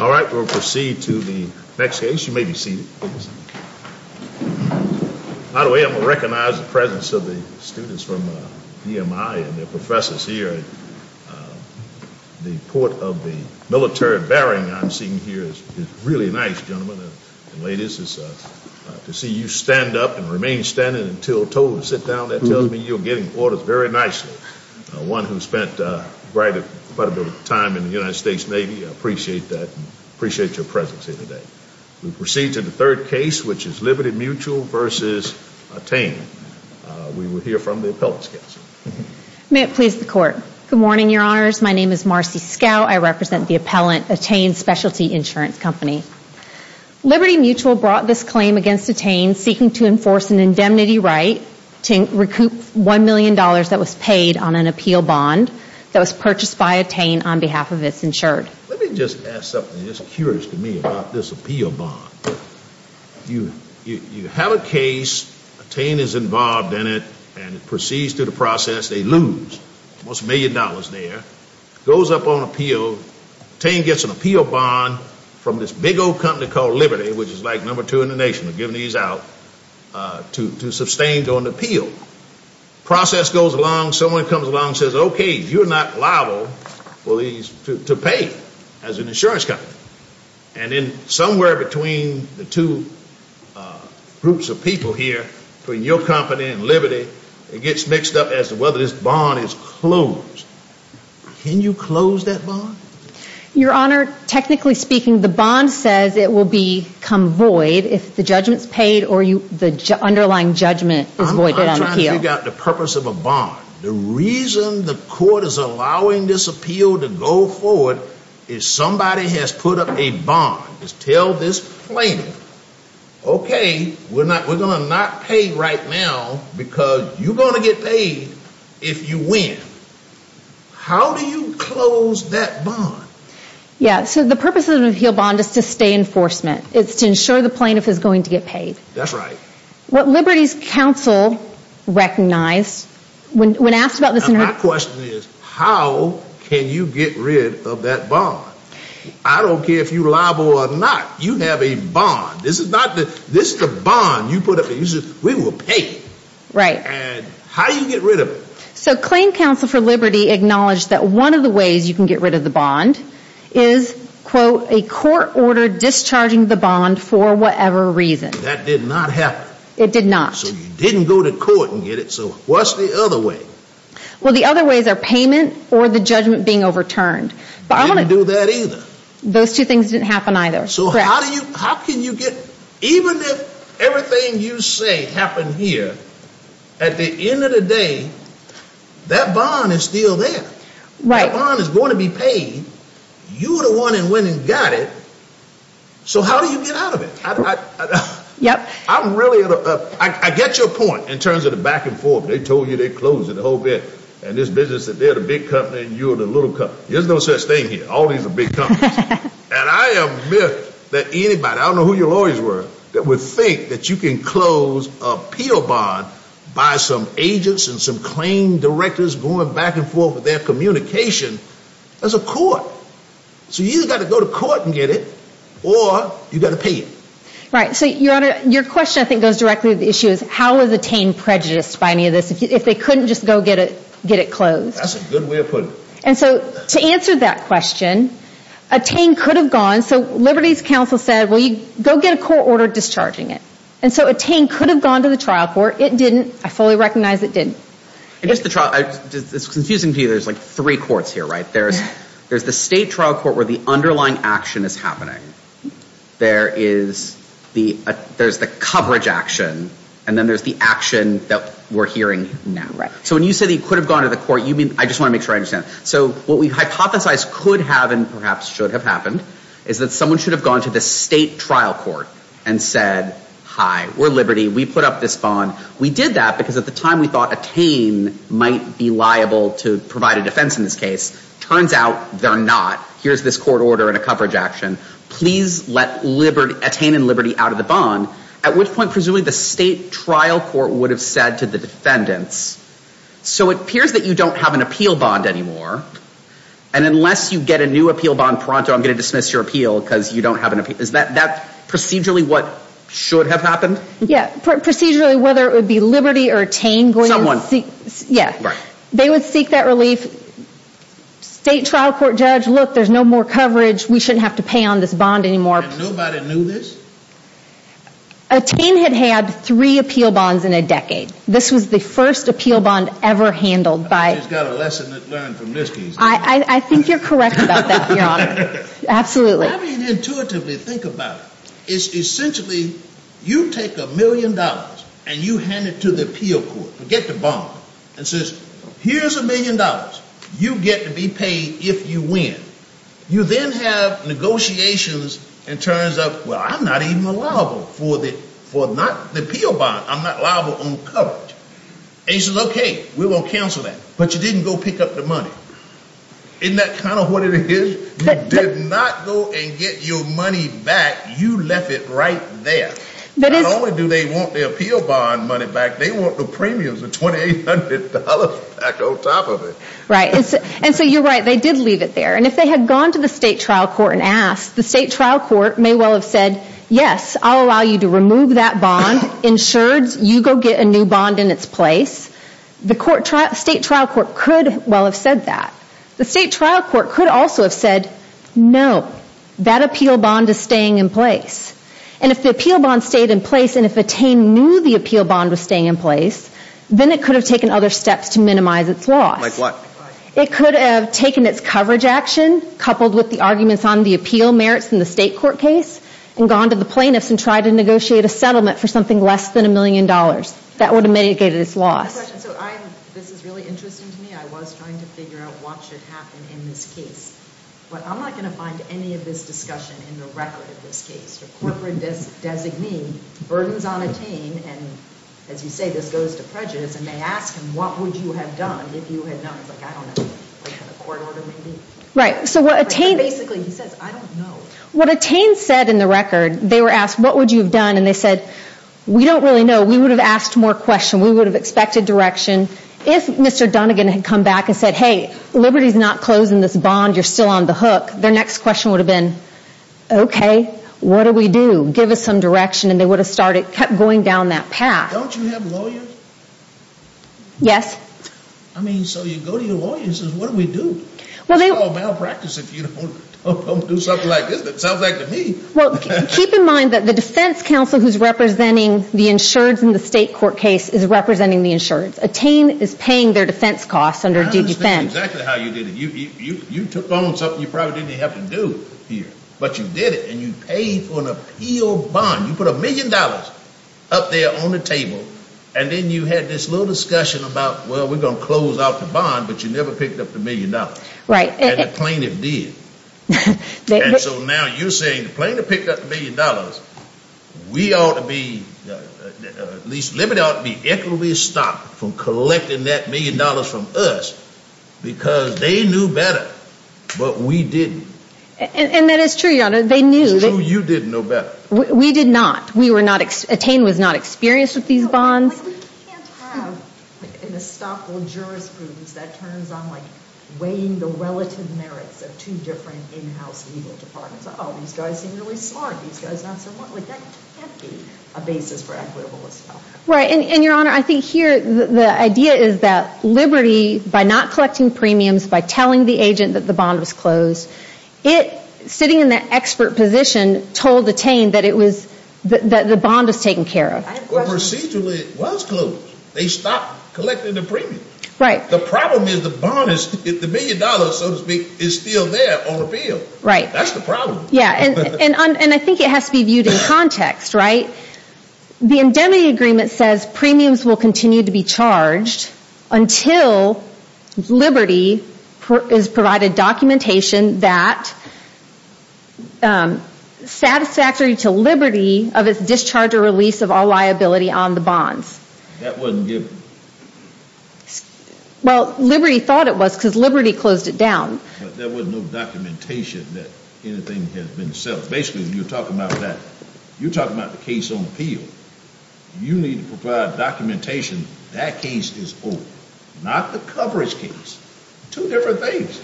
All right, we'll proceed to the next case. You may be seated. By the way, I'm going to recognize the presence of the students from EMI and their professors here. The port of the military bearing I'm seeing here is really nice, gentlemen and ladies, to see you stand up and remain standing until told to sit down. That tells me you're getting orders very nicely. One who spent quite a bit of time in the United States Navy, I appreciate that and appreciate your presence here today. We'll proceed to the third case, which is Liberty Mutual v. Atain. We will hear from the appellant's counsel. May it please the court. Good morning, your honors. My name is Marcy Scout. I represent the appellant, Atain Specialty Insurance Company. Liberty Mutual brought this claim against Atain, seeking to enforce an indemnity right to recoup $1 million that was paid on an appeal bond that was purchased by Atain on behalf of its insured. Let me just ask something that's curious to me about this appeal bond. You have a case, Atain is involved in it, and it proceeds through the process. They lose almost $1 million there. It goes up on appeal. Atain gets an appeal bond from this big old company called Liberty, which is like number two in the nation. They're giving these out to sustain an appeal. The process goes along, someone comes along and says, okay, you're not liable to pay as an insurance company. And then somewhere between the two groups of people here, between your company and Liberty, it gets mixed up as to whether this bond is closed. Can you close that bond? Your honor, technically speaking, the bond says it will become void if the judgment is paid or the underlying judgment is voided. I'm trying to figure out the purpose of a bond. The reason the court is allowing this appeal to go forward is somebody has put up a bond to tell this plaintiff, okay, we're going to not pay right now because you're going to get paid if you win. How do you close that bond? Yeah, so the purpose of it is to ensure the plaintiff is going to get paid. That's right. What Liberty's counsel recognized when asked about this... My question is, how can you get rid of that bond? I don't care if you're liable or not. You have a bond. This is the bond you put up. We will pay you. Right. And how do you get rid of it? So claim counsel for Liberty acknowledged that one of the discharging the bond for whatever reason. That did not happen. It did not. So you didn't go to court and get it. So what's the other way? Well, the other ways are payment or the judgment being overturned. Didn't do that either. Those two things didn't happen either. So how can you get, even if everything you say happened here, at the end of the day, that bond is still there. Right. The bond is going to be paid. You're the one that went and got it. So how do you get out of it? I get your point in terms of the back and forth. They told you they closed it, the whole bit. And this business that they're the big company and you're the little company. There's no such thing here. All these are big companies. And I admit that anybody, I don't know who your lawyers were, that would think that you can close a appeal bond by some agents and some claim directors going back and forth with their communication as a court. So you either got to go to court and get it or you got to pay it. Right. So your question, I think, goes directly to the issue is how is Attain prejudiced by any of this, if they couldn't just go get it closed? That's a good way of putting it. And so to answer that question, Attain could have gone. So Liberty's counsel said, well, you go get a court order discharging it. And so Attain could have gone to the trial court. It did. It's confusing to you. There's like three courts here, right? There's the state trial court where the underlying action is happening. There is the coverage action. And then there's the action that we're hearing now. So when you say that he could have gone to the court, you mean, I just want to make sure I understand. So what we hypothesize could have and perhaps should have happened is that someone should have gone to the state trial court and said, hi, we're Liberty. We put up this bond. We did that because at the time we thought Attain might be liable to provide a defense in this case. Turns out they're not. Here's this court order and a coverage action. Please let Attain and Liberty out of the bond. At which point, presumably the state trial court would have said to the defendants, so it appears that you don't have an appeal bond anymore. And unless you get a new appeal bond pronto, I'm going to dismiss your appeal because you don't have an appeal. Is that procedurally what should have happened? Yeah. Procedurally, whether it would be Liberty or Attain going to seek, yeah. They would seek that relief. State trial court judge, look, there's no more coverage. We shouldn't have to pay on this bond anymore. And nobody knew this? Attain had had three appeal bonds in a decade. This was the first appeal bond ever handled by... She's got a lesson to learn from this case. I think you're correct about that, Your Honor. Absolutely. Let me intuitively think about it. Essentially, you take a million dollars and you hand it to the appeal court to get the bond. And says, here's a million dollars. You get to be paid if you win. You then have negotiations and turns out, well, I'm not even liable for the appeal bond. I'm not liable on coverage. And he says, okay, we're going to cancel that. But you didn't go pick up the bond. Isn't that kind of what it is? You did not go and get your money back. You left it right there. Not only do they want the appeal bond money back, they want the premiums of $2,800 back on top of it. Right. And so you're right. They did leave it there. And if they had gone to the state trial court and asked, the state trial court may well have said, yes, I'll allow you to remove that bond, insured. You go get a new bond in its place. The state trial court could well have said that. The state trial court could also have said, no, that appeal bond is staying in place. And if the appeal bond stayed in place and if Attain knew the appeal bond was staying in place, then it could have taken other steps to minimize its loss. Like what? It could have taken its coverage action coupled with the arguments on the appeal merits in the state court case and gone to the plaintiffs and tried to negotiate a settlement for something less than a million dollars. That would have mitigated its loss. So I'm, this is really interesting to me. I was trying to figure out what should happen in this case. But I'm not going to find any of this discussion in the record of this case. The corporate designee burdens on Attain. And as you say, this goes to prejudice. And they ask him, what would you have done if you had done? He's like, I don't know. Wait for the court order maybe? Right. So what Attain basically, he says, I don't know. What Attain said in the record, they were asked, what would you have done? And they said, we don't really know. We would have asked more questions. We would have expected direction. If Mr. Dunnigan had come back and said, hey, Liberty's not closing this bond. You're still on the hook. Their next question would have been, okay, what do we do? Give us some direction. And they would have started, kept going down that path. Don't you have lawyers? Yes. I mean, so you go to your lawyers and say, what do we do? It's all malpractice if you don't do something like this. That sounds like to me. Well, keep in mind that the defense counsel who's representing the insureds in the state court case is representing the insureds. Attain is paying their defense costs under due defense. I understand exactly how you did it. You took on something you probably didn't even have to do here, but you did it. And you paid for an appeal bond. You put a million dollars up there on the table. And then you had this little discussion about, well, we're going to close out the bond, but you never picked up the million dollars. Right. And the plaintiff did. And so now you're saying the plaintiff picked up the million dollars. We ought to be, at least Liberty ought to be equitably stopped from collecting that million dollars from us because they knew better, but we didn't. And that is true, Your Honor. They knew. It's true, you didn't know better. We did not. Attain was not experienced with these bonds. We can't have an estoppel jurisprudence that turns on weighing the relative merits of two different in-house legal departments. Oh, these guys seem really smart. These guys aren't so smart. That can't be a basis for equitable estoppel. Right. And Your Honor, I think here the idea is that Liberty, by not collecting premiums, by telling the agent that the bond was closed, it, sitting in that expert position, told Attain that the bond was taken care of. Procedurally, it was closed. They stopped collecting the premium. Right. The problem is the bond is, the million dollars, so to speak, is still there on appeal. Right. That's the problem. Yeah. And I think it has to be viewed in context, right? The indemnity agreement says premiums will continue to be charged until Liberty is provided documentation that satisfactory to Liberty of its discharge or release of all liability on the bonds. That wasn't given. Well, Liberty thought it was because Liberty closed it down. But there was no documentation that anything had been settled. Basically, you're talking about that. You're talking about the case on appeal. You need to provide documentation that case is open, not the coverage case. Two different things.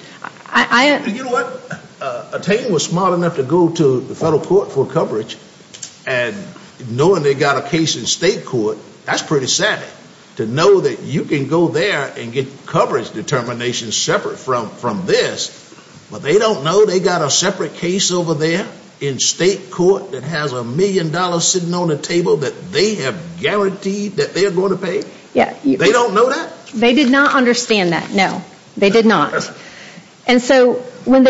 You know what? Attain was smart enough to go to federal court for coverage, and knowing they got a case in state court, that's pretty savvy, to know that you can go there and get coverage determinations separate from this, but they don't know they got a separate case over there in state court that has a million dollars sitting on the table that they have guaranteed that they're going to pay? They don't know that? They did not understand that, no. They did not. And so when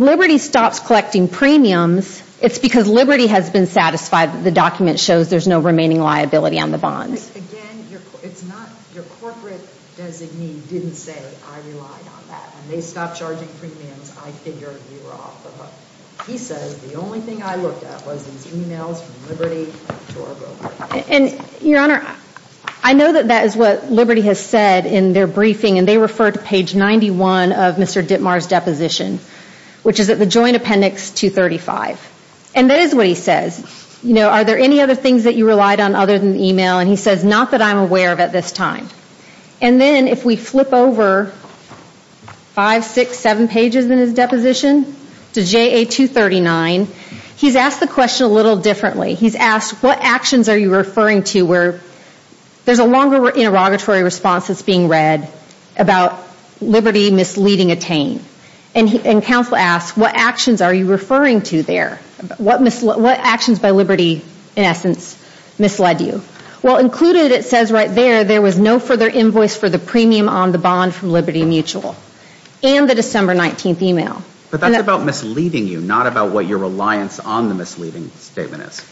Liberty stops collecting premiums, it's because Liberty has been satisfied that the document shows there's no remaining liability on the bond. Again, your corporate designee didn't say I relied on that. When they stopped charging premiums, I figured you were off the hook. He says the only thing I looked at was these emails from Liberty. And your Honor, I know that that is what Liberty has said in their briefing, and they refer to page 91 of Mr. Dittmar's deposition, which is at the joint appendix 235. And that is what he says. You know, are there any other things that you relied on other than the email? And he says not that I'm aware of at this time. And then if we flip over five, six, seven pages in his deposition to JA 239, he's asked the question a little differently. He's asked what actions are you referring to where there's a longer interrogatory response that's being read about Liberty misleading Attain. And counsel asks what actions are you referring to there? What actions by Liberty, in essence, misled you? Well, included it says right there there was no further invoice for the premium on the bond from Liberty Mutual and the December 19th email. But that's about misleading you, not about what your reliance on the misleading statement is.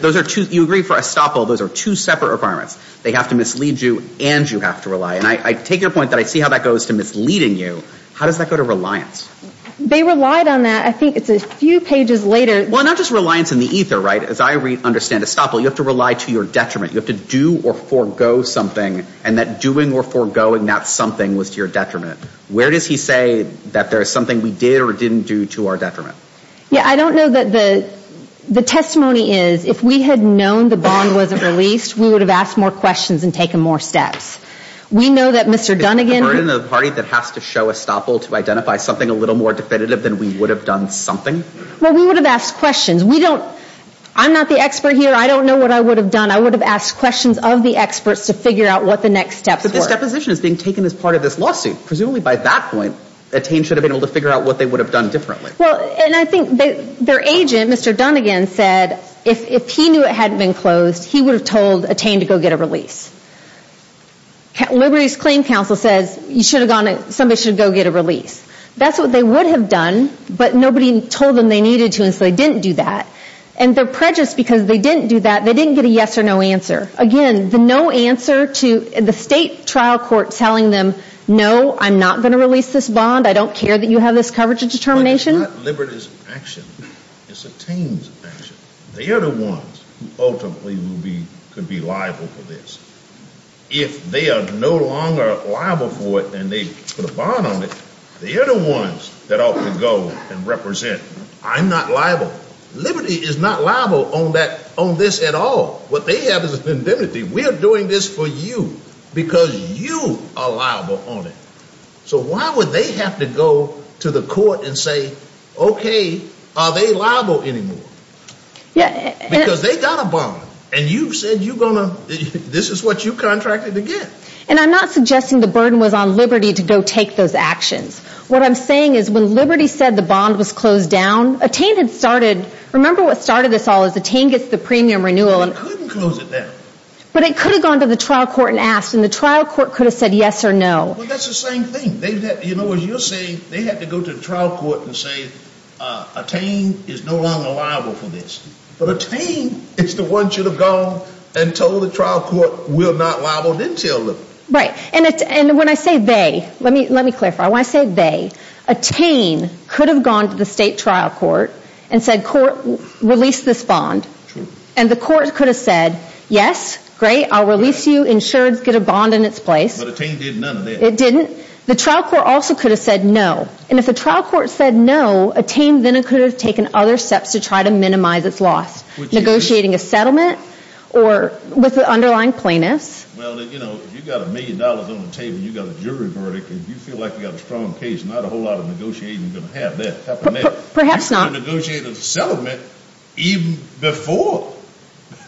Those are two, you agree for estoppel, those are two separate requirements. They have to mislead you and you have to rely. And I take your point that I see how that goes to misleading you. How does that go to reliance? They relied on that. I think it's a few pages later. Well, not just reliance in the ether, right? As I understand estoppel, you have to rely to your detriment. You have to do or forego something. And that doing or foregoing that something was to your detriment. Where does he say that there is something we did or didn't do to our detriment? Yeah, I don't know the testimony is, if we had known the bond wasn't released, we would have asked more questions and taken more steps. We know that Mr. Dunnigan. We're in a party that has to show estoppel to identify something a little more definitive than we would have done something? Well, we would have asked questions. We don't, I'm not the expert here. I don't know what I would have done. I would have asked questions of the experts to figure out what the next steps were. But this deposition is being taken as part of this lawsuit. Presumably by that point, Attain should have been able to figure out what they would have done differently. Well, and I think their agent, Mr. Dunnigan, said if he knew it hadn't been closed, he would have told Attain to go get a release. Liberties Claim Council says somebody should go get a release. That's what they would have done, but nobody told them they needed to and so they didn't do that. And their prejudice because they didn't do that, they didn't get a yes or no answer. Again, the no answer to the state trial court telling them, no, I'm not going to release this bond. I don't care that you have this coverage of determination. It's not Liberties Action. It's Attain's Action. They are the ones who ultimately could be liable for this. If they are no longer liable for it and they put a bond on it, they are the ones that ought to go and represent. I'm not liable. Liberty is not liable on this at all. What they have is a because you are liable on it. So why would they have to go to the court and say, okay, are they liable anymore? Because they got a bond and you said you're going to, this is what you contracted to get. And I'm not suggesting the burden was on Liberty to go take those actions. What I'm saying is when Liberty said the bond was closed down, Attain had started, remember what started this all is Attain gets the premium renewal. But it couldn't close it down. But it could have gone to the trial court and asked and the trial court could have said yes or no. Well, that's the same thing. You know what you're saying? They had to go to the trial court and say, Attain is no longer liable for this. But Attain is the one should have gone and told the trial court, we're not liable, then tell them. Right. And when I say they, let me clarify, when I say they, Attain could have gone to the state trial court and said, court, release this bond. And the court could have said, yes, great. I'll release you. Insurance, get a bond in its place. But Attain did none of that. It didn't. The trial court also could have said no. And if the trial court said no, Attain then could have taken other steps to try to minimize its loss, negotiating a settlement or with the underlying plaintiffs. Well, you know, you've got a million dollars on the table and you've got a jury verdict and you feel like you've got a strong case, not a settlement even before,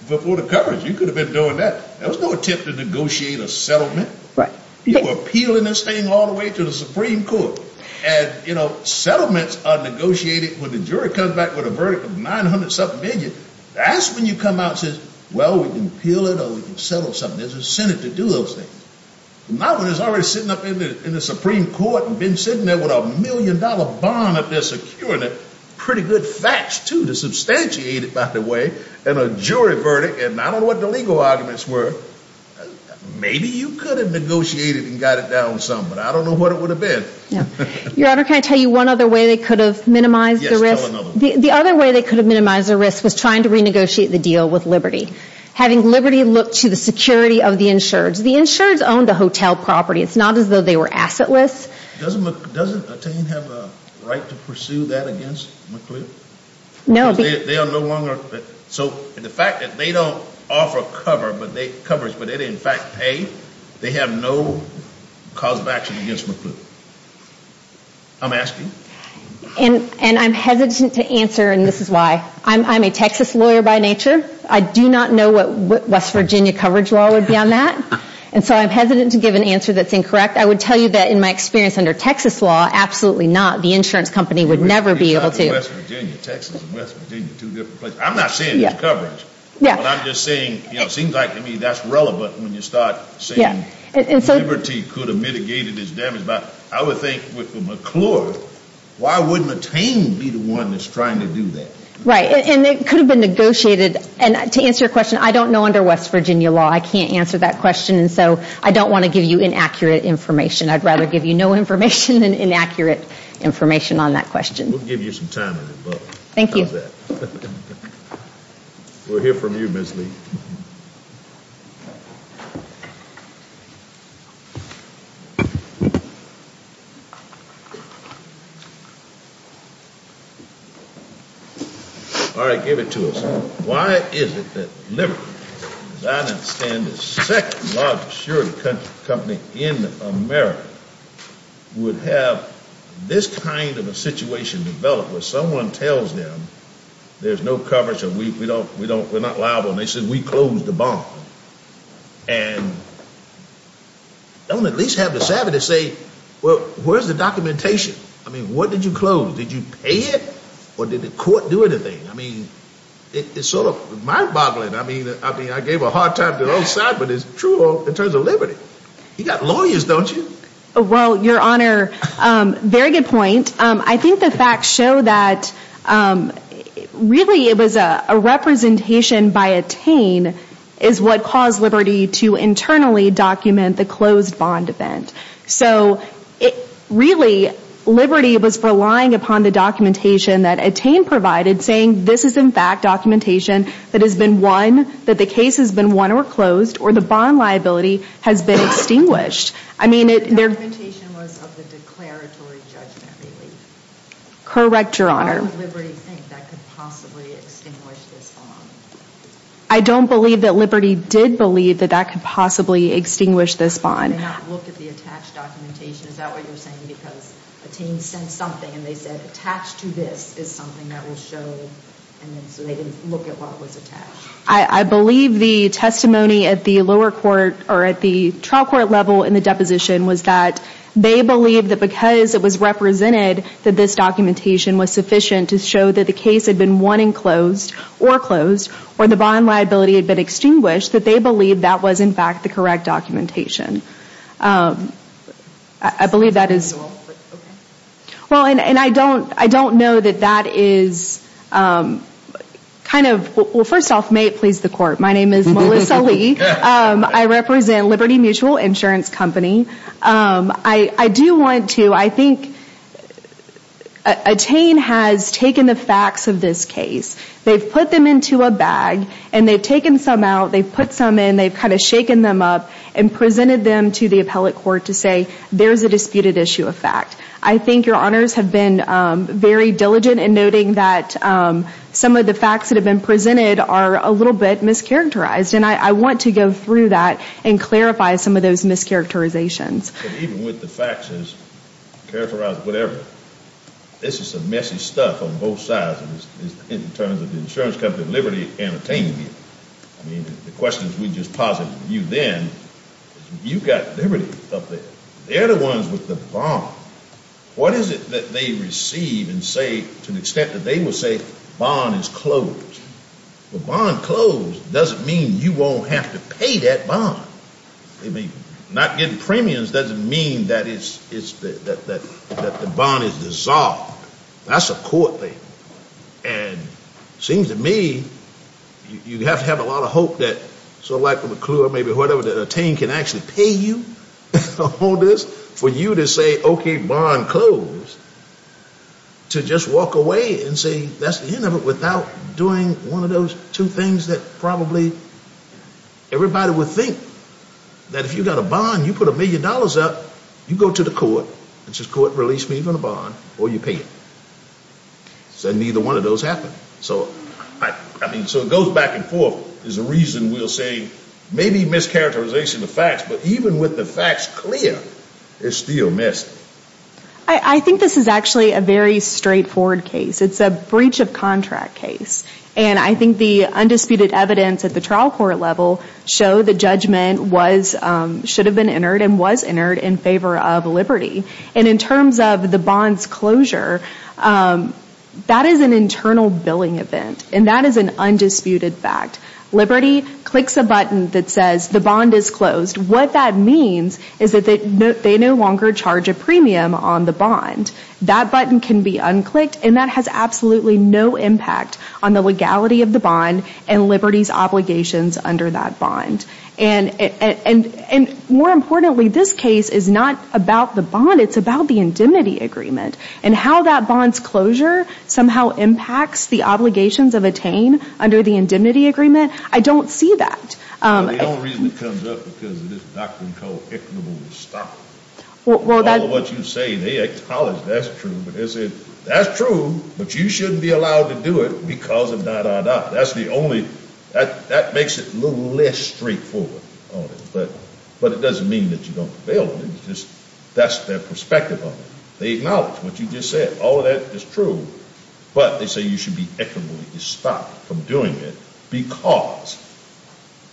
before the coverage. You could have been doing that. There was no attempt to negotiate a settlement. Right. You were appealing this thing all the way to the Supreme Court. And you know, settlements are negotiated when the jury comes back with a verdict of 900 something million. That's when you come out and say, well, we can appeal it or we can settle something. There's a Senate to do those things. Not when it's already sitting up in the Supreme Court and been sitting there with a million dollar bond up there securing it. Pretty good facts to substantiate it by the way. And a jury verdict. And I don't know what the legal arguments were. Maybe you could have negotiated and got it down some, but I don't know what it would have been. Your Honor, can I tell you one other way they could have minimized the risk? The other way they could have minimized the risk was trying to renegotiate the deal with Liberty. Having Liberty look to the security of the insureds. The insureds owned the hotel property. It's not as though they were assetless. Doesn't Attain have a right to pursue that against McCliff? No. They are no longer, so the fact that they don't offer coverage, but they did in fact pay, they have no cause of action against McCliff. I'm asking. And I'm hesitant to answer, and this is why. I'm a Texas lawyer by nature. I do not know what West Virginia coverage law would be on that. And so I'm hesitant to give an answer that's incorrect. I would tell you that in my experience under Texas law, absolutely not. The insurance company would never be able to. I'm not saying there's coverage, but I'm just saying it seems like to me that's relevant when you start saying Liberty could have mitigated this damage. But I would think with McCliff, why wouldn't Attain be the one that's trying to do that? Right. And it could have been negotiated. And to answer your question, I don't know under West Virginia law. I can't answer that question. And so I don't want to give you inaccurate information. I'd rather give you no information than inaccurate information on that question. We'll give you some time. Thank you. We'll hear from you, Ms. Lee. All right. Give it to us. Why is it that Liberty, as I understand it, the second largest insurance company in America, would have this kind of a situation develop where someone tells them there's no coverage and we're not liable. And they said, we closed the bond. And don't at least have the savvy to say, well, where's the documentation? I mean, what did you close? Did you pay it? Or did the court do anything? I mean, it's sort of mind boggling. I mean, I gave a hard time to the old side, but it's true in terms of Liberty. You got lawyers, don't you? Well, your honor, very good point. I think the facts show that really it was a representation by Attain is what caused Liberty to internally document the closed bond event. So really, Liberty was relying upon the documentation that Attain provided saying this is in fact documentation that has been won, that the case has been won or closed, or the bond liability has been extinguished. I mean, it... The documentation was of the declaratory judgment relief. Correct, your honor. Why would Liberty think that could possibly extinguish this bond? I don't believe that Liberty did believe that that could possibly extinguish this bond. They did not look at the attached documentation. Is that what you're saying? Because Attain sent something and they said, attached to this is something that will show. And then so they didn't look at what was attached. I believe the testimony at the lower court or at the trial court level in the deposition was that they believed that because it was represented that this documentation was sufficient to show that the case had been won and closed, or closed, or the bond liability had been extinguished, that they believed that was in fact the correct documentation. I believe that is... Is that what you're saying? Well, and I don't know that that is kind of... Well, first off, may it please the court. My represent Liberty Mutual Insurance Company. I do want to... I think Attain has taken the facts of this case. They've put them into a bag and they've taken some out, they've put some in, they've kind of shaken them up and presented them to the appellate court to say, there's a disputed issue of fact. I think your honors have been very diligent in noting that some of the facts that have been presented are a little bit mischaracterized. And I want to go through that and clarify some of those mischaracterizations. Even with the facts as characterized, whatever, this is some messy stuff on both sides in terms of the insurance company Liberty and Attain Mutual. I mean, the questions we just posited with you then, you've got Liberty up there. They're the ones with the bond. What is it that they receive and say to the extent that they will say bond is closed? The bond closed doesn't mean you won't have to pay that bond. I mean, not getting premiums doesn't mean that the bond is dissolved. That's a court thing. And it seems to me, you have to have a lot of hope that, so like McClure or maybe whatever, that Attain can actually pay you for this, for you to say, okay, bond closed, to just walk away and say that's the end of it without doing one of those two things that probably everybody would think. That if you've got a bond, you put a million dollars up, you go to the court, and says court, release me from the bond, or you pay it. Said neither one of those happened. So, I mean, so it goes back and forth is the reason we'll say maybe mischaracterization of facts, but even with the facts clear, it's still messy. I think this is actually a very straightforward case. It's a breach of contract case. And I think the undisputed evidence at the trial court level show the judgment was, should have been entered and was entered in favor of Liberty. And in terms of the bond's closure, that is an internal billing event. And that is an undisputed fact. Liberty clicks a button that says the bond is closed. What that means is that they no longer charge a premium on the bond. That button can be clicked, and that has absolutely no impact on the legality of the bond and Liberty's obligations under that bond. And more importantly, this case is not about the bond. It's about the indemnity agreement and how that bond's closure somehow impacts the obligations of attain under the indemnity agreement. I don't see that. The only reason it comes up because of this doctrine called equitably stocked. All of what you say, they acknowledge that's true. But they say, that's true, but you shouldn't be allowed to do it because of da, da, da. That's the only, that makes it a little less straightforward on it. But it doesn't mean that you don't prevail. That's their perspective on it. They acknowledge what you just said. All of that is true. But they say you should be equitably stocked from doing it because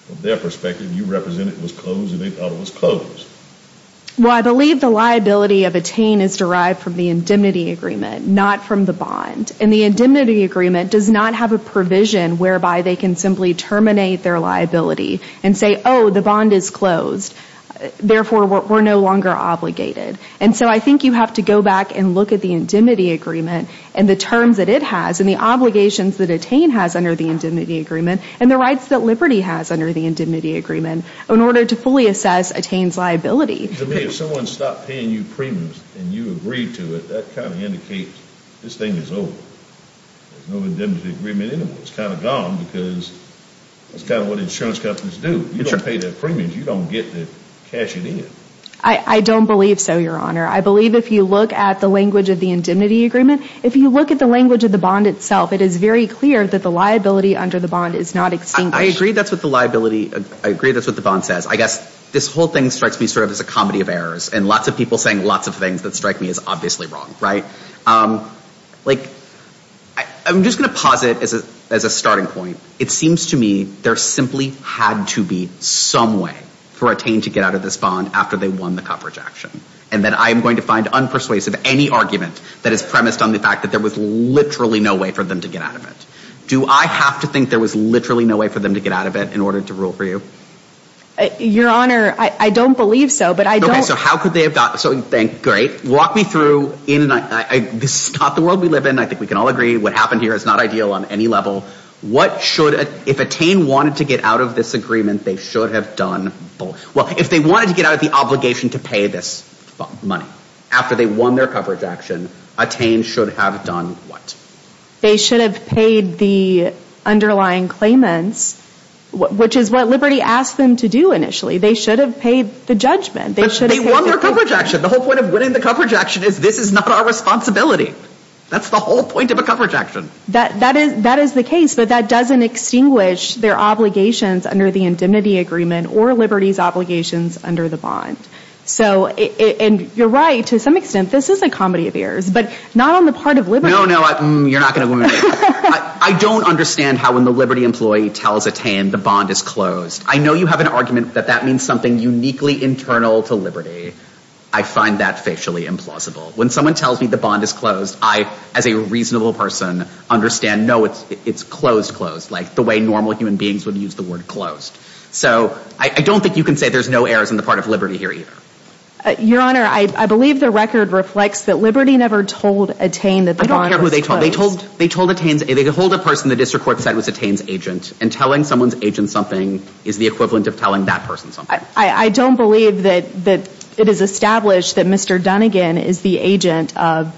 of their perspective, you represent it was closed and they thought it was closed. Well, I believe the liability of attain is derived from the indemnity agreement, not from the bond. And the indemnity agreement does not have a provision whereby they can simply terminate their liability and say, oh, the bond is closed. Therefore, we're no longer obligated. And so I think you have to go back and look at the indemnity agreement and the terms that it has and the obligations that attain has under the and the rights that Liberty has under the indemnity agreement in order to fully assess attain's liability. To me, if someone stopped paying you premiums and you agreed to it, that kind of indicates this thing is over. There's no indemnity agreement anymore. It's kind of gone because that's kind of what insurance companies do. You don't pay their premiums, you don't get the cash it in. I don't believe so, your honor. I believe if you look at the language of the indemnity agreement, if you look at the language of the bond itself, it is very clear that the liability under the bond is not extinguished. I agree that's what the liability, I agree that's what the bond says. I guess this whole thing strikes me sort of as a comedy of errors and lots of people saying lots of things that strike me as obviously wrong, right? Like, I'm just going to posit as a starting point, it seems to me there simply had to be some way for attain to get out of this bond after they won the coverage action. And that I am going to find unpersuasive any argument that is premised on the fact that there was literally no way for them to get out of it. Do I have to think there was literally no way for them to get out of it in order to rule for you? Your honor, I don't believe so, but I don't. Okay, so how could they have got, so great, walk me through, this is not the world we live in. I think we can all agree what happened here is not ideal on any level. What should, if attain wanted to get out of this agreement, they should have done, well, if they wanted to get out of the obligation to pay this money after they won their coverage action, attain should have done what? They should have paid the underlying claimants, which is what Liberty asked them to do initially. They should have paid the judgment. But they won their coverage action. The whole point of winning the coverage action is this is not our responsibility. That's the whole point of a coverage action. That is the case, but that doesn't extinguish their obligations under the indemnity agreement or Liberty's obligations under the bond. So, and you're right, to some extent, this is a comedy of errors, but not on the part of Liberty. No, no, you're not going to win. I don't understand how when the Liberty employee tells attain the bond is closed. I know you have an argument that that means something uniquely internal to Liberty. I find that facially implausible. When someone tells me the bond is closed, I, as a reasonable person, understand, no, it's closed, closed, like the way normal human beings would use the word closed. So, I don't think you can say there's no errors on the part of Liberty here either. Your Honor, I believe the record reflects that Liberty never told attain that the bond was closed. I don't care who they told. They told attain, they told a person the district court said was attain's agent, and telling someone's agent something is the equivalent of telling that person something. I don't believe that it is established that Mr. Dunnigan is the agent of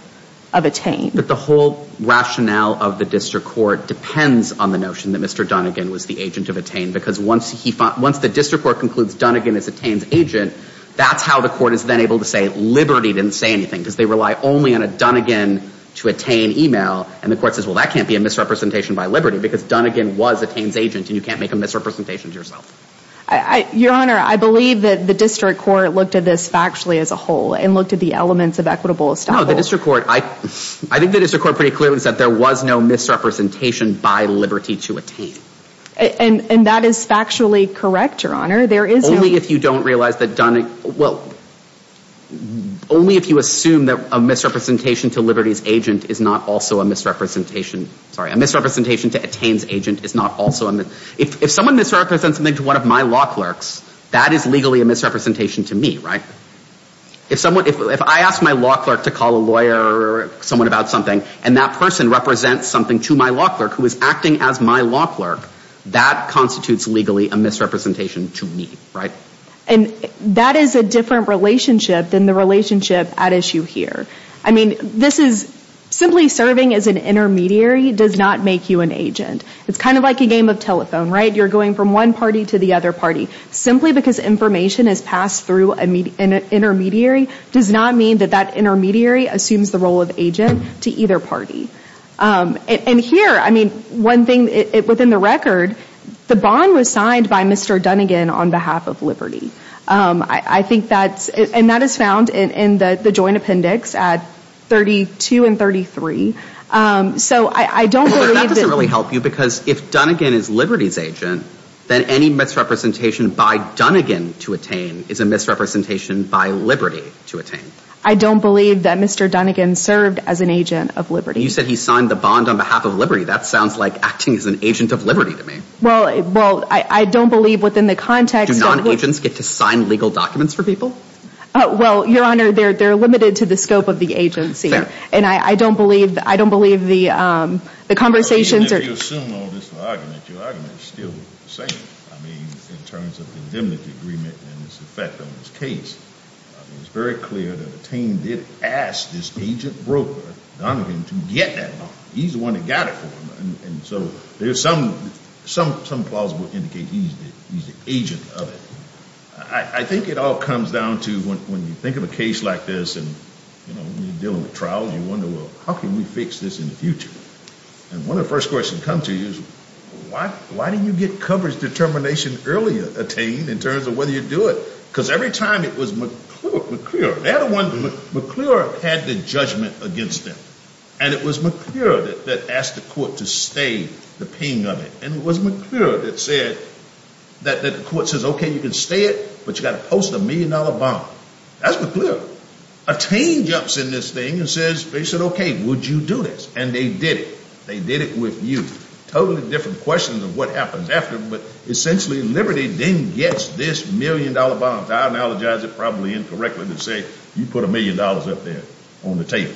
attain. But the whole rationale of the district court depends on the notion that Mr. Dunnigan was the agent of attain, because once the district court concludes Dunnigan is attain's agent, that's how the court is then able to say Liberty didn't say anything, because they rely only on a Dunnigan to attain email, and the court says, well, that can't be a misrepresentation by Liberty, because Dunnigan was attain's agent, and you can't make a misrepresentation to yourself. Your Honor, I believe that the district court looked at this factually as a whole, and looked at the elements of equitable establishment. No, the district court, I think the district court pretty clearly said there was no misrepresentation by Liberty to attain. And that is factually correct, Your Honor. Only if you don't realize that well, only if you assume that a misrepresentation to Liberty's agent is not also a misrepresentation, sorry, a misrepresentation to attain's agent is not also a misrepresentation. If someone misrepresents something to one of my law clerks, that is legally a misrepresentation to me, right? If someone, if I ask my law clerk to call a lawyer or someone about something, and that person represents something to my law clerk who is acting as my law clerk, that constitutes legally a misrepresentation to me, right? And that is a different relationship than the relationship at issue here. I mean, this is simply serving as an intermediary does not make you an agent. It's kind of like a game of telephone, right? You're going from one party to the other party. Simply because information is passed through an intermediary does not mean that that intermediary assumes the role of agent to either party. And here, I mean, one thing within the record, the bond was signed by Mr. Dunnigan on behalf of Liberty. I think that's, and that is found in the joint appendix at 32 and 33. So I don't believe that... Well, that doesn't really help you because if Dunnigan is Liberty's agent, then any misrepresentation by Dunnigan to attain is a misrepresentation by Liberty to attain. I don't believe that Mr. Dunnigan served as an agent of Liberty. You said he signed the bond on behalf of Liberty. That sounds like acting as an agent of Liberty to Well, I don't believe within the context... Do non-agents get to sign legal documents for people? Well, Your Honor, they're limited to the scope of the agency. And I don't believe the conversations... Even if you assume all this argument, your argument is still the same. I mean, in terms of the indemnity agreement and its effect on this case. I mean, it's very clear that Attain did ask this agent broker, Dunnigan, to get that bond. He's the one that got it for him. And so there's some plausible indication he's the agent of it. I think it all comes down to when you think of a case like this and you're dealing with trials, you wonder, well, how can we fix this in the future? And one of the first questions that comes to you is, why do you get coverage determination earlier, Attain, in terms of whether you do it? Because every time it was McClure. They had a one... McClure had the judgment against them. And it was McClure that asked the court to stay the paying of it. And it was McClure that said that the court says, okay, you can stay it, but you got to post a million dollar bond. That's McClure. Attain jumps in this thing and says, they said, okay, would you do this? And they did it. They did it with you. Totally different questions of what happens after, but essentially Liberty then gets this million dollar bond. I analogize it probably incorrectly to say you put a million dollars up there on the table.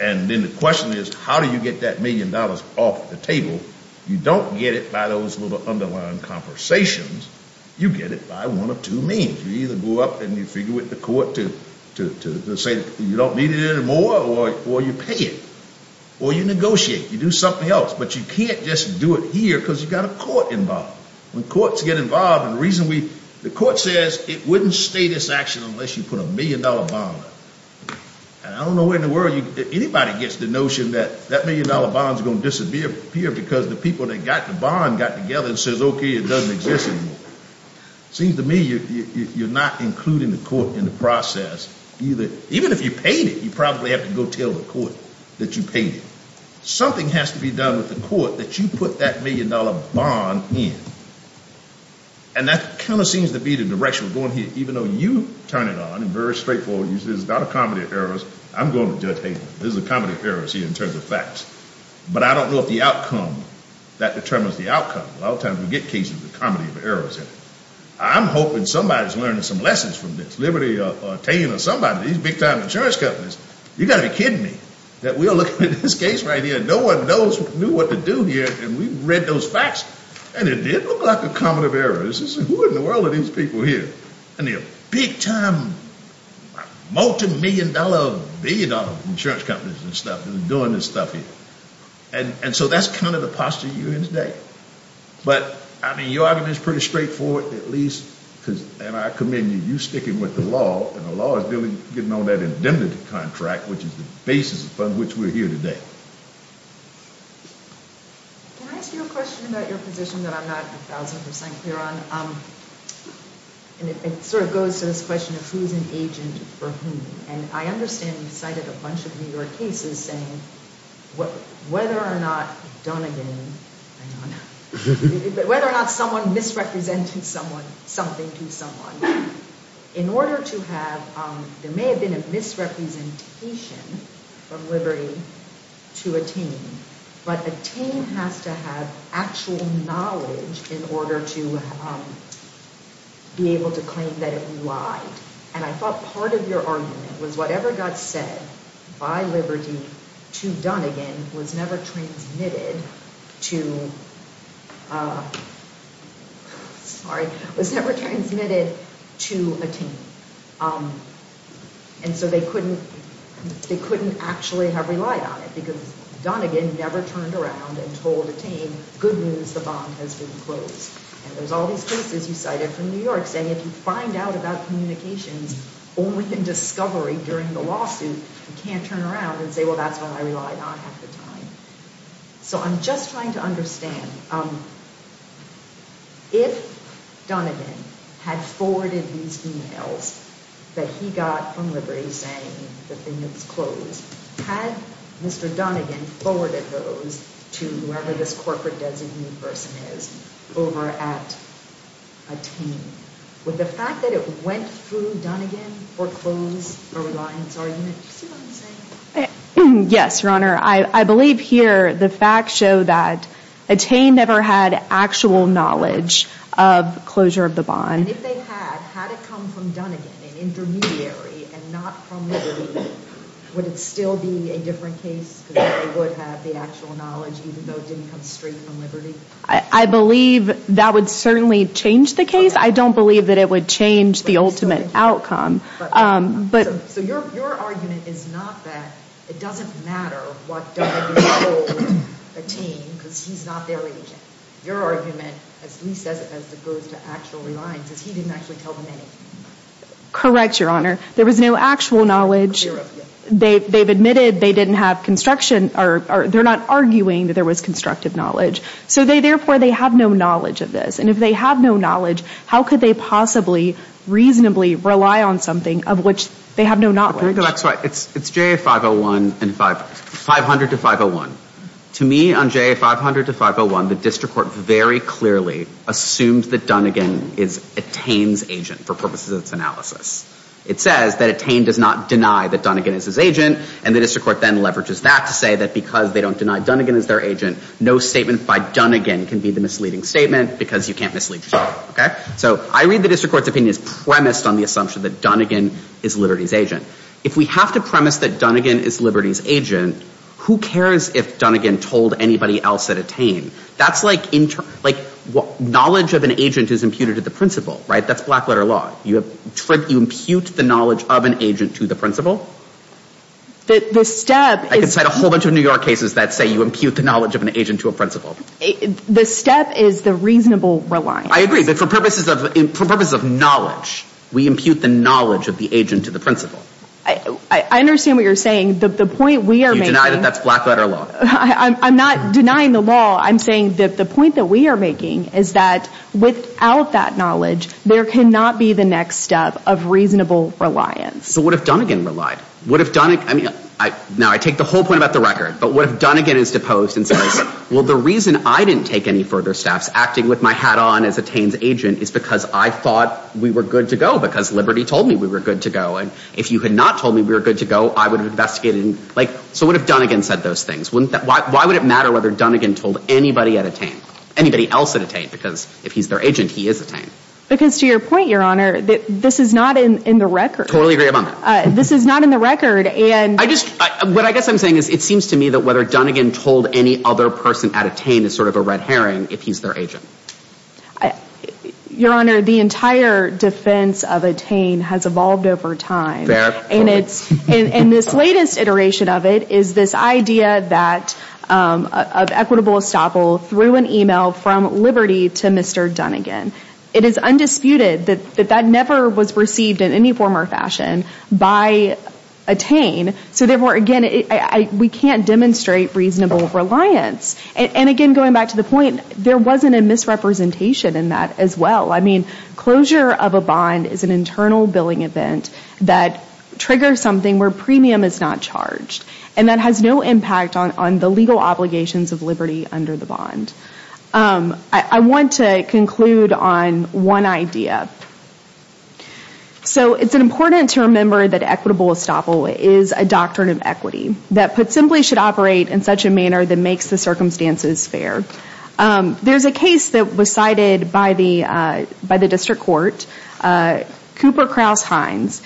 And then the question is, how do you get that million dollars off the table? You don't get it by those little underlying conversations. You get it by one of two means. You either go up and you figure with the court to say you don't need it anymore, or you pay it, or you negotiate. You do something else, but you can't just do it here because you've got a court involved. When courts get involved, and the reason we... The status action unless you put a million dollar bond up. And I don't know where in the world anybody gets the notion that that million dollar bond is going to disappear here because the people that got the bond got together and says, okay, it doesn't exist anymore. Seems to me you're not including the court in the process either. Even if you paid it, you probably have to go tell the court that you paid it. Something has to be done with the court that you put that million dollar bond in. And that kind of seems to be the direction we're going here, even though you turn it on. It's very straightforward. This is not a comedy of errors. I'm going to judge hateful. This is a comedy of errors here in terms of facts. But I don't know if the outcome that determines the outcome. A lot of times we get cases with comedy of errors in it. I'm hoping somebody is learning some lessons from this. Liberty or Tane or somebody, these big time insurance companies. You got to be kidding me that we are looking at this case right here and no one knows, knew what to do here. And we read those facts and it did look like a comedy of errors. Who in the world are these people here? Big time multimillion dollar, billion dollar insurance companies and stuff doing this stuff here. And so that's kind of the posture you're in today. But I mean, your argument is pretty straightforward at least because, and I commend you, you sticking with the law and the law is getting on that indemnity contract, which is the basis upon which we're here today. Can I ask you a question about your position that I'm not a thousand percent clear on? And it sort of goes to this question of who's an agent for whom. And I understand you cited a bunch of New York cases saying whether or not Dunigan, whether or not someone misrepresenting someone, something to someone in order to have, there may have been a misrepresentation from Liberty to attain, but attain has to have actual knowledge in order to be able to claim that it relied. And I thought part of your argument was whatever got said by Liberty to Dunigan was never transmitted to, sorry, was never transmitted to attain. And so they couldn't, they couldn't actually have relied on it because Dunigan never turned around and told attain good news, the bond has been closed. And there's all these cases you cited from New York saying if you find out about communications only in discovery during the lawsuit, you can't turn around and say, well, that's what I relied on at the time. So I'm just trying to understand if Dunigan had forwarded these emails that he got from Liberty saying the thing was closed, had Mr. Dunigan forwarded those to whoever this corporate designee person is over at attain, would the fact that it went through Dunigan foreclose a reliance argument? Do you see what I'm saying? Yes, Your Honor. I believe here the facts show that attain never had actual knowledge of closure of the bond. And if they had, had it come from Dunigan, an intermediary and not from Liberty, would it still be a different case because they would have the actual knowledge even though it didn't come straight from Liberty? I believe that would certainly change the case. I don't believe that it would change the ultimate outcome. So your argument is not that it doesn't matter what Dunigan told attain because he's not their agent. Your argument, at least as it goes to actual reliance, is he didn't actually tell them anything. Correct, Your Honor. There was no actual knowledge. They've admitted they didn't have construction or they're not arguing that there was constructive knowledge. So therefore they have no knowledge of this. And if they have no knowledge, how could they possibly reasonably rely on something of which they have no knowledge? It's J.A. 501 and 500 to 501. To me on J.A. 500 to 501, the district court very clearly assumed that Dunigan is attain's agent for purposes of its analysis. It says that attain does not deny that Dunigan is his agent and the district court then leverages that to say that because they don't deny Dunigan is their agent, no statement by Dunigan can be the misleading statement because you can't mislead. Okay, so I read the district court's opinion is premised on the assumption that Dunigan is Liberty's agent. If we have to premise that Dunigan is Liberty's agent, who cares if Dunigan told anybody else at attain? That's like knowledge of an agent is imputed to the principal, right? That's black letter law. You impute the knowledge of an agent to the principal. I could cite a whole bunch of New York cases that say you impute the knowledge of an agent to a principal. The step is the reasonable reliance. I agree, but for purposes of knowledge, we impute the knowledge of the agent to the principal. I understand what you're saying. The point we are making. You deny that that's black letter law. I'm not denying the law. I'm saying that the point that we are making is that without that knowledge, there cannot be the next step of reasonable reliance. So what if Dunigan relied? What if Dunigan, now I take the whole point about the record, but what if Dunigan is deposed and the reason I didn't take any further staffs acting with my hat on as attain's agent is because I thought we were good to go because Liberty told me we were good to go. And if you had not told me we were good to go, I would have investigated. So what if Dunigan said those things? Why would it matter whether Dunigan told anybody at attain? Anybody else at attain? Because if he's their agent, he is attain. Because to your point, your honor, this is not in the record. Totally agree about that. This is not in the record. What I guess I'm saying is it seems to me that whether Dunigan told any other person at attain is sort of a red herring if he's their agent. Your honor, the entire defense of attain has evolved over time. And this latest iteration of it is this idea of equitable estoppel through an email from Liberty to Mr. Dunigan. It is undisputed that that never was received in any form or fashion by attain. So therefore, again, we can't demonstrate reasonable reliance. And again, going back to the point, there wasn't a misrepresentation in that as well. I mean, closure of a bond is an internal billing event that triggers something where premium is not charged. And that has no impact on the legal obligations of Liberty under the bond. I want to conclude on one idea. So it's important to remember that equitable estoppel is a doctrine of equity that put simply should operate in such a manner that makes the circumstances fair. There's a case that was cited by the district court, Cooper Krause Hines.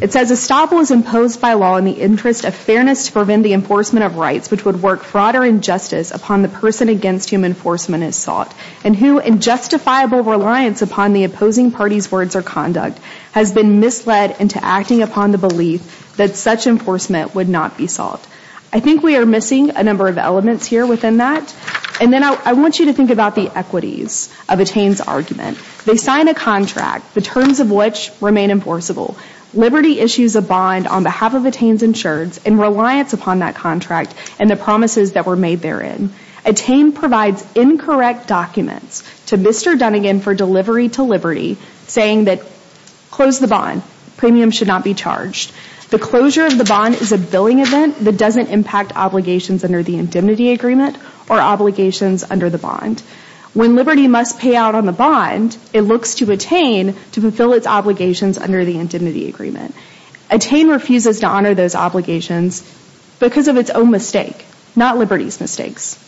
It says, estoppel is imposed by law in the interest of fairness to prevent the enforcement of rights, which would work fraud or injustice upon the person against whom enforcement is sought. And who in justifiable reliance upon the opposing party's words or conduct has been misled into acting upon the belief that such enforcement would not be sought. I think we are missing a number of elements here within that. And then I want you to think about the equities of Attain's argument. They sign a contract, the terms of which remain enforceable. Liberty issues a bond on behalf of Attain's insurance in reliance upon that contract and the promises that were made therein. Attain provides incorrect documents to Mr. Dunnigan for delivery to Liberty saying that close the bond, premium should not be charged. The closure of the bond is a billing event that doesn't impact obligations under the indemnity agreement or obligations under the bond. When Liberty must pay out on the bond, it looks to Attain to fulfill its obligations under the indemnity agreement. Attain refuses to honor those obligations because of its own mistake, not Liberty's mistakes.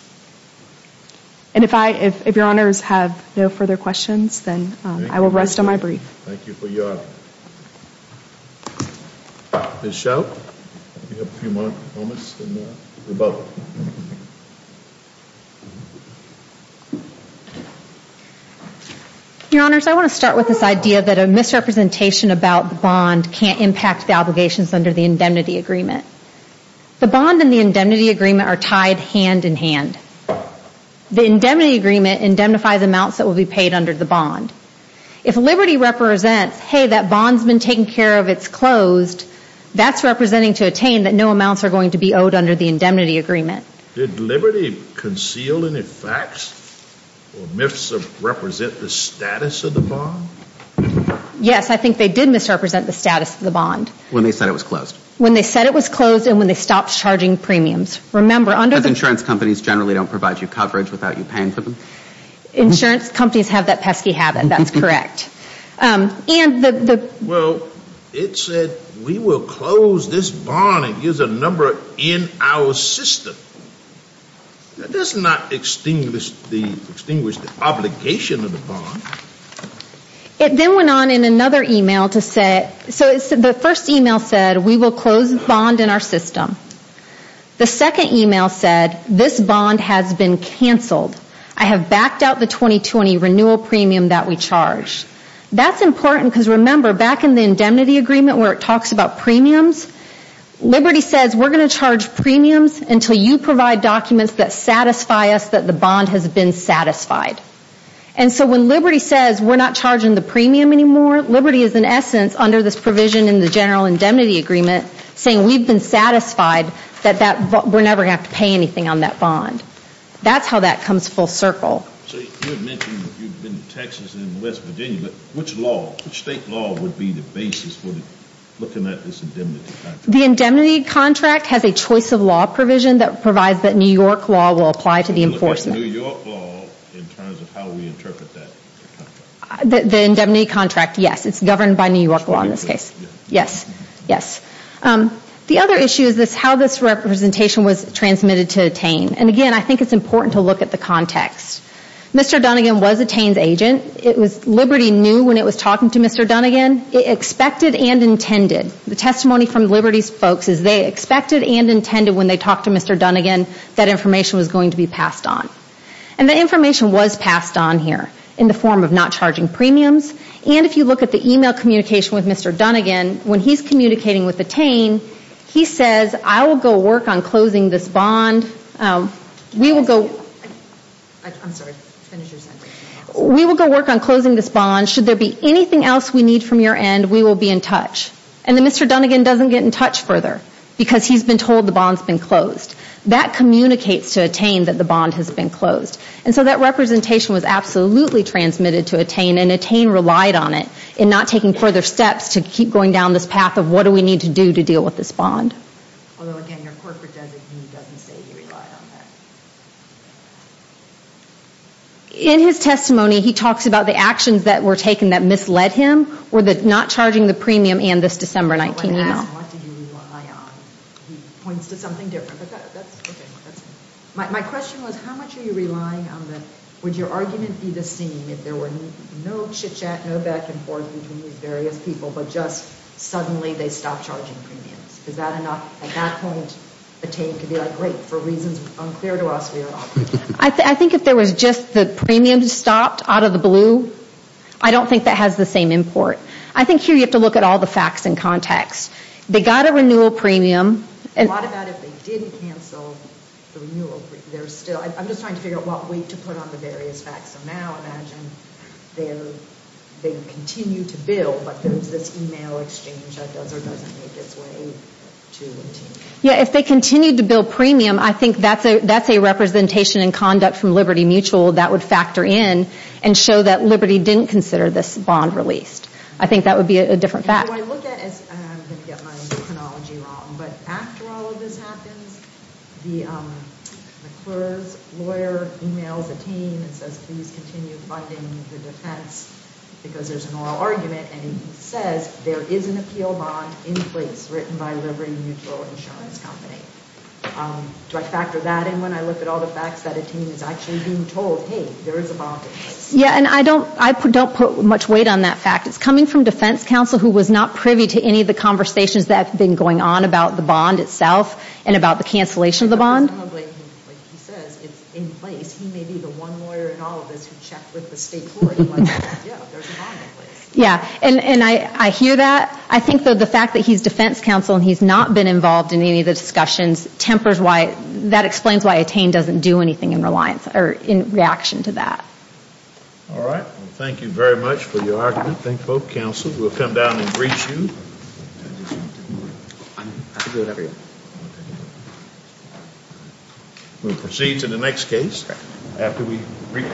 And if I, if, if your honors have no further questions, then I will rest on my brief. Thank you for your, Ms. Schell. You have a few more moments and then we'll vote. Your honors, I want to start with this idea that a misrepresentation about the bond can't impact obligations under the indemnity agreement. The bond and the indemnity agreement are tied hand in hand. The indemnity agreement indemnifies amounts that will be paid under the bond. If Liberty represents, hey, that bond's been taken care of, it's closed, that's representing to Attain that no amounts are going to be owed under the indemnity agreement. Did Liberty conceal any facts or myths that represent the status of the bond? Yes, I think they did misrepresent the status of the bond. When they said it was closed. When they said it was closed and when they stopped charging premiums. Because insurance companies generally don't provide you coverage without you paying for them? Insurance companies have that pesky habit, that's correct. Well, it said we will close this bond and use a number in our system. That does not extinguish the obligation of the bond. It then went on in another email to say, so the first email said we will close the bond in our system. The second email said this bond has been canceled. I have backed out the 2020 renewal premium that we charge. That's important because remember back in the indemnity agreement where it talks about premiums, Liberty says we're going to charge premiums until you provide documents that satisfy us that the bond has been satisfied. And so when Liberty says we're not charging the premium anymore, Liberty is in essence under this provision in the general indemnity agreement saying we've been satisfied that we're never going to have to pay anything on that bond. That's how that comes full circle. You had mentioned that you've been in Texas and West Virginia, but which state law would be the basis for looking at this indemnity contract? The indemnity contract has a choice of law provision that provides that New York law will apply to the enforcement. New York law in terms of how we interpret that? The indemnity contract, yes. It's governed by New York law in this case. Yes, yes. The other issue is how this representation was transmitted to Tane. And again, I think it's important to look at the context. Mr. Dunnigan was a Tane's agent. Liberty knew when it was talking to Mr. Dunnigan. It expected and intended. The testimony from Liberty's folks is they expected and intended when they talked to Mr. Dunnigan that information was going to be passed on. And the information was passed on here in the form of not charging premiums. And if you look at the email communication with Mr. Dunnigan, when he's communicating with the Tane, he says, I will go work on closing this bond. We will go work on closing this bond. Should there be anything else we need from your end, we will be in touch. And Mr. Dunnigan doesn't get in touch further because he's been told the bond's been closed. That communicates to a Tane that the bond has been closed. And so that representation was absolutely transmitted to a Tane and a Tane relied on it in not taking further steps to keep going down this path of what do we need to do to deal with this bond. Although again, your corporate designee doesn't say he relied on that. In his testimony, he talks about the actions that were taken that misled him or not charging the premium and this December 19 email. What do you rely on? He points to something different. My question was, how much are you relying on the, would your argument be the same if there were no chitchat, no back and forth between these various people, but just suddenly they stopped charging premiums? Is that enough? At that point, a Tane could be like, great, for reasons unclear to us, we are off. I think if there was just the premiums stopped out of the blue, I don't think that has the same import. I think here you have to look at all the facts and context. They got a renewal premium. A lot of that if they didn't cancel the renewal, there's still, I'm just trying to figure out what way to put on the various facts. So now imagine they continue to bill, but there's this email exchange that does or doesn't make its way to a Tane. Yeah, if they continued to bill premium, I think that's a representation in conduct from Liberty Mutual that would factor in and show that Liberty didn't consider this bond released. I think that would be a different fact. What I look at is, and I'm going to get my chronology wrong, but after all of this happens, the McClure's lawyer emails a Tane and says, please continue funding the defense because there's an oral argument and he says there is an appeal bond in place written by Liberty Mutual Insurance Company. Do I factor that in when I look at all the facts that a Tane is actually told, hey, there is a bond in place? Yeah, and I don't put much weight on that fact. It's coming from defense counsel who was not privy to any of the conversations that have been going on about the bond itself and about the cancellation of the bond. Like he says, it's in place. He may be the one lawyer in all of this who checked with the state court and was like, yeah, there's a bond in place. Yeah, and I hear that. I think that the fact that he's defense counsel and he's not been involved in any of the discussions tempers why, that explains why a Tane doesn't do anything in reaction to that. All right. Well, thank you very much for your argument. Thank both counsels. We'll come down and brief you. We'll proceed to the next case after we brief counsel.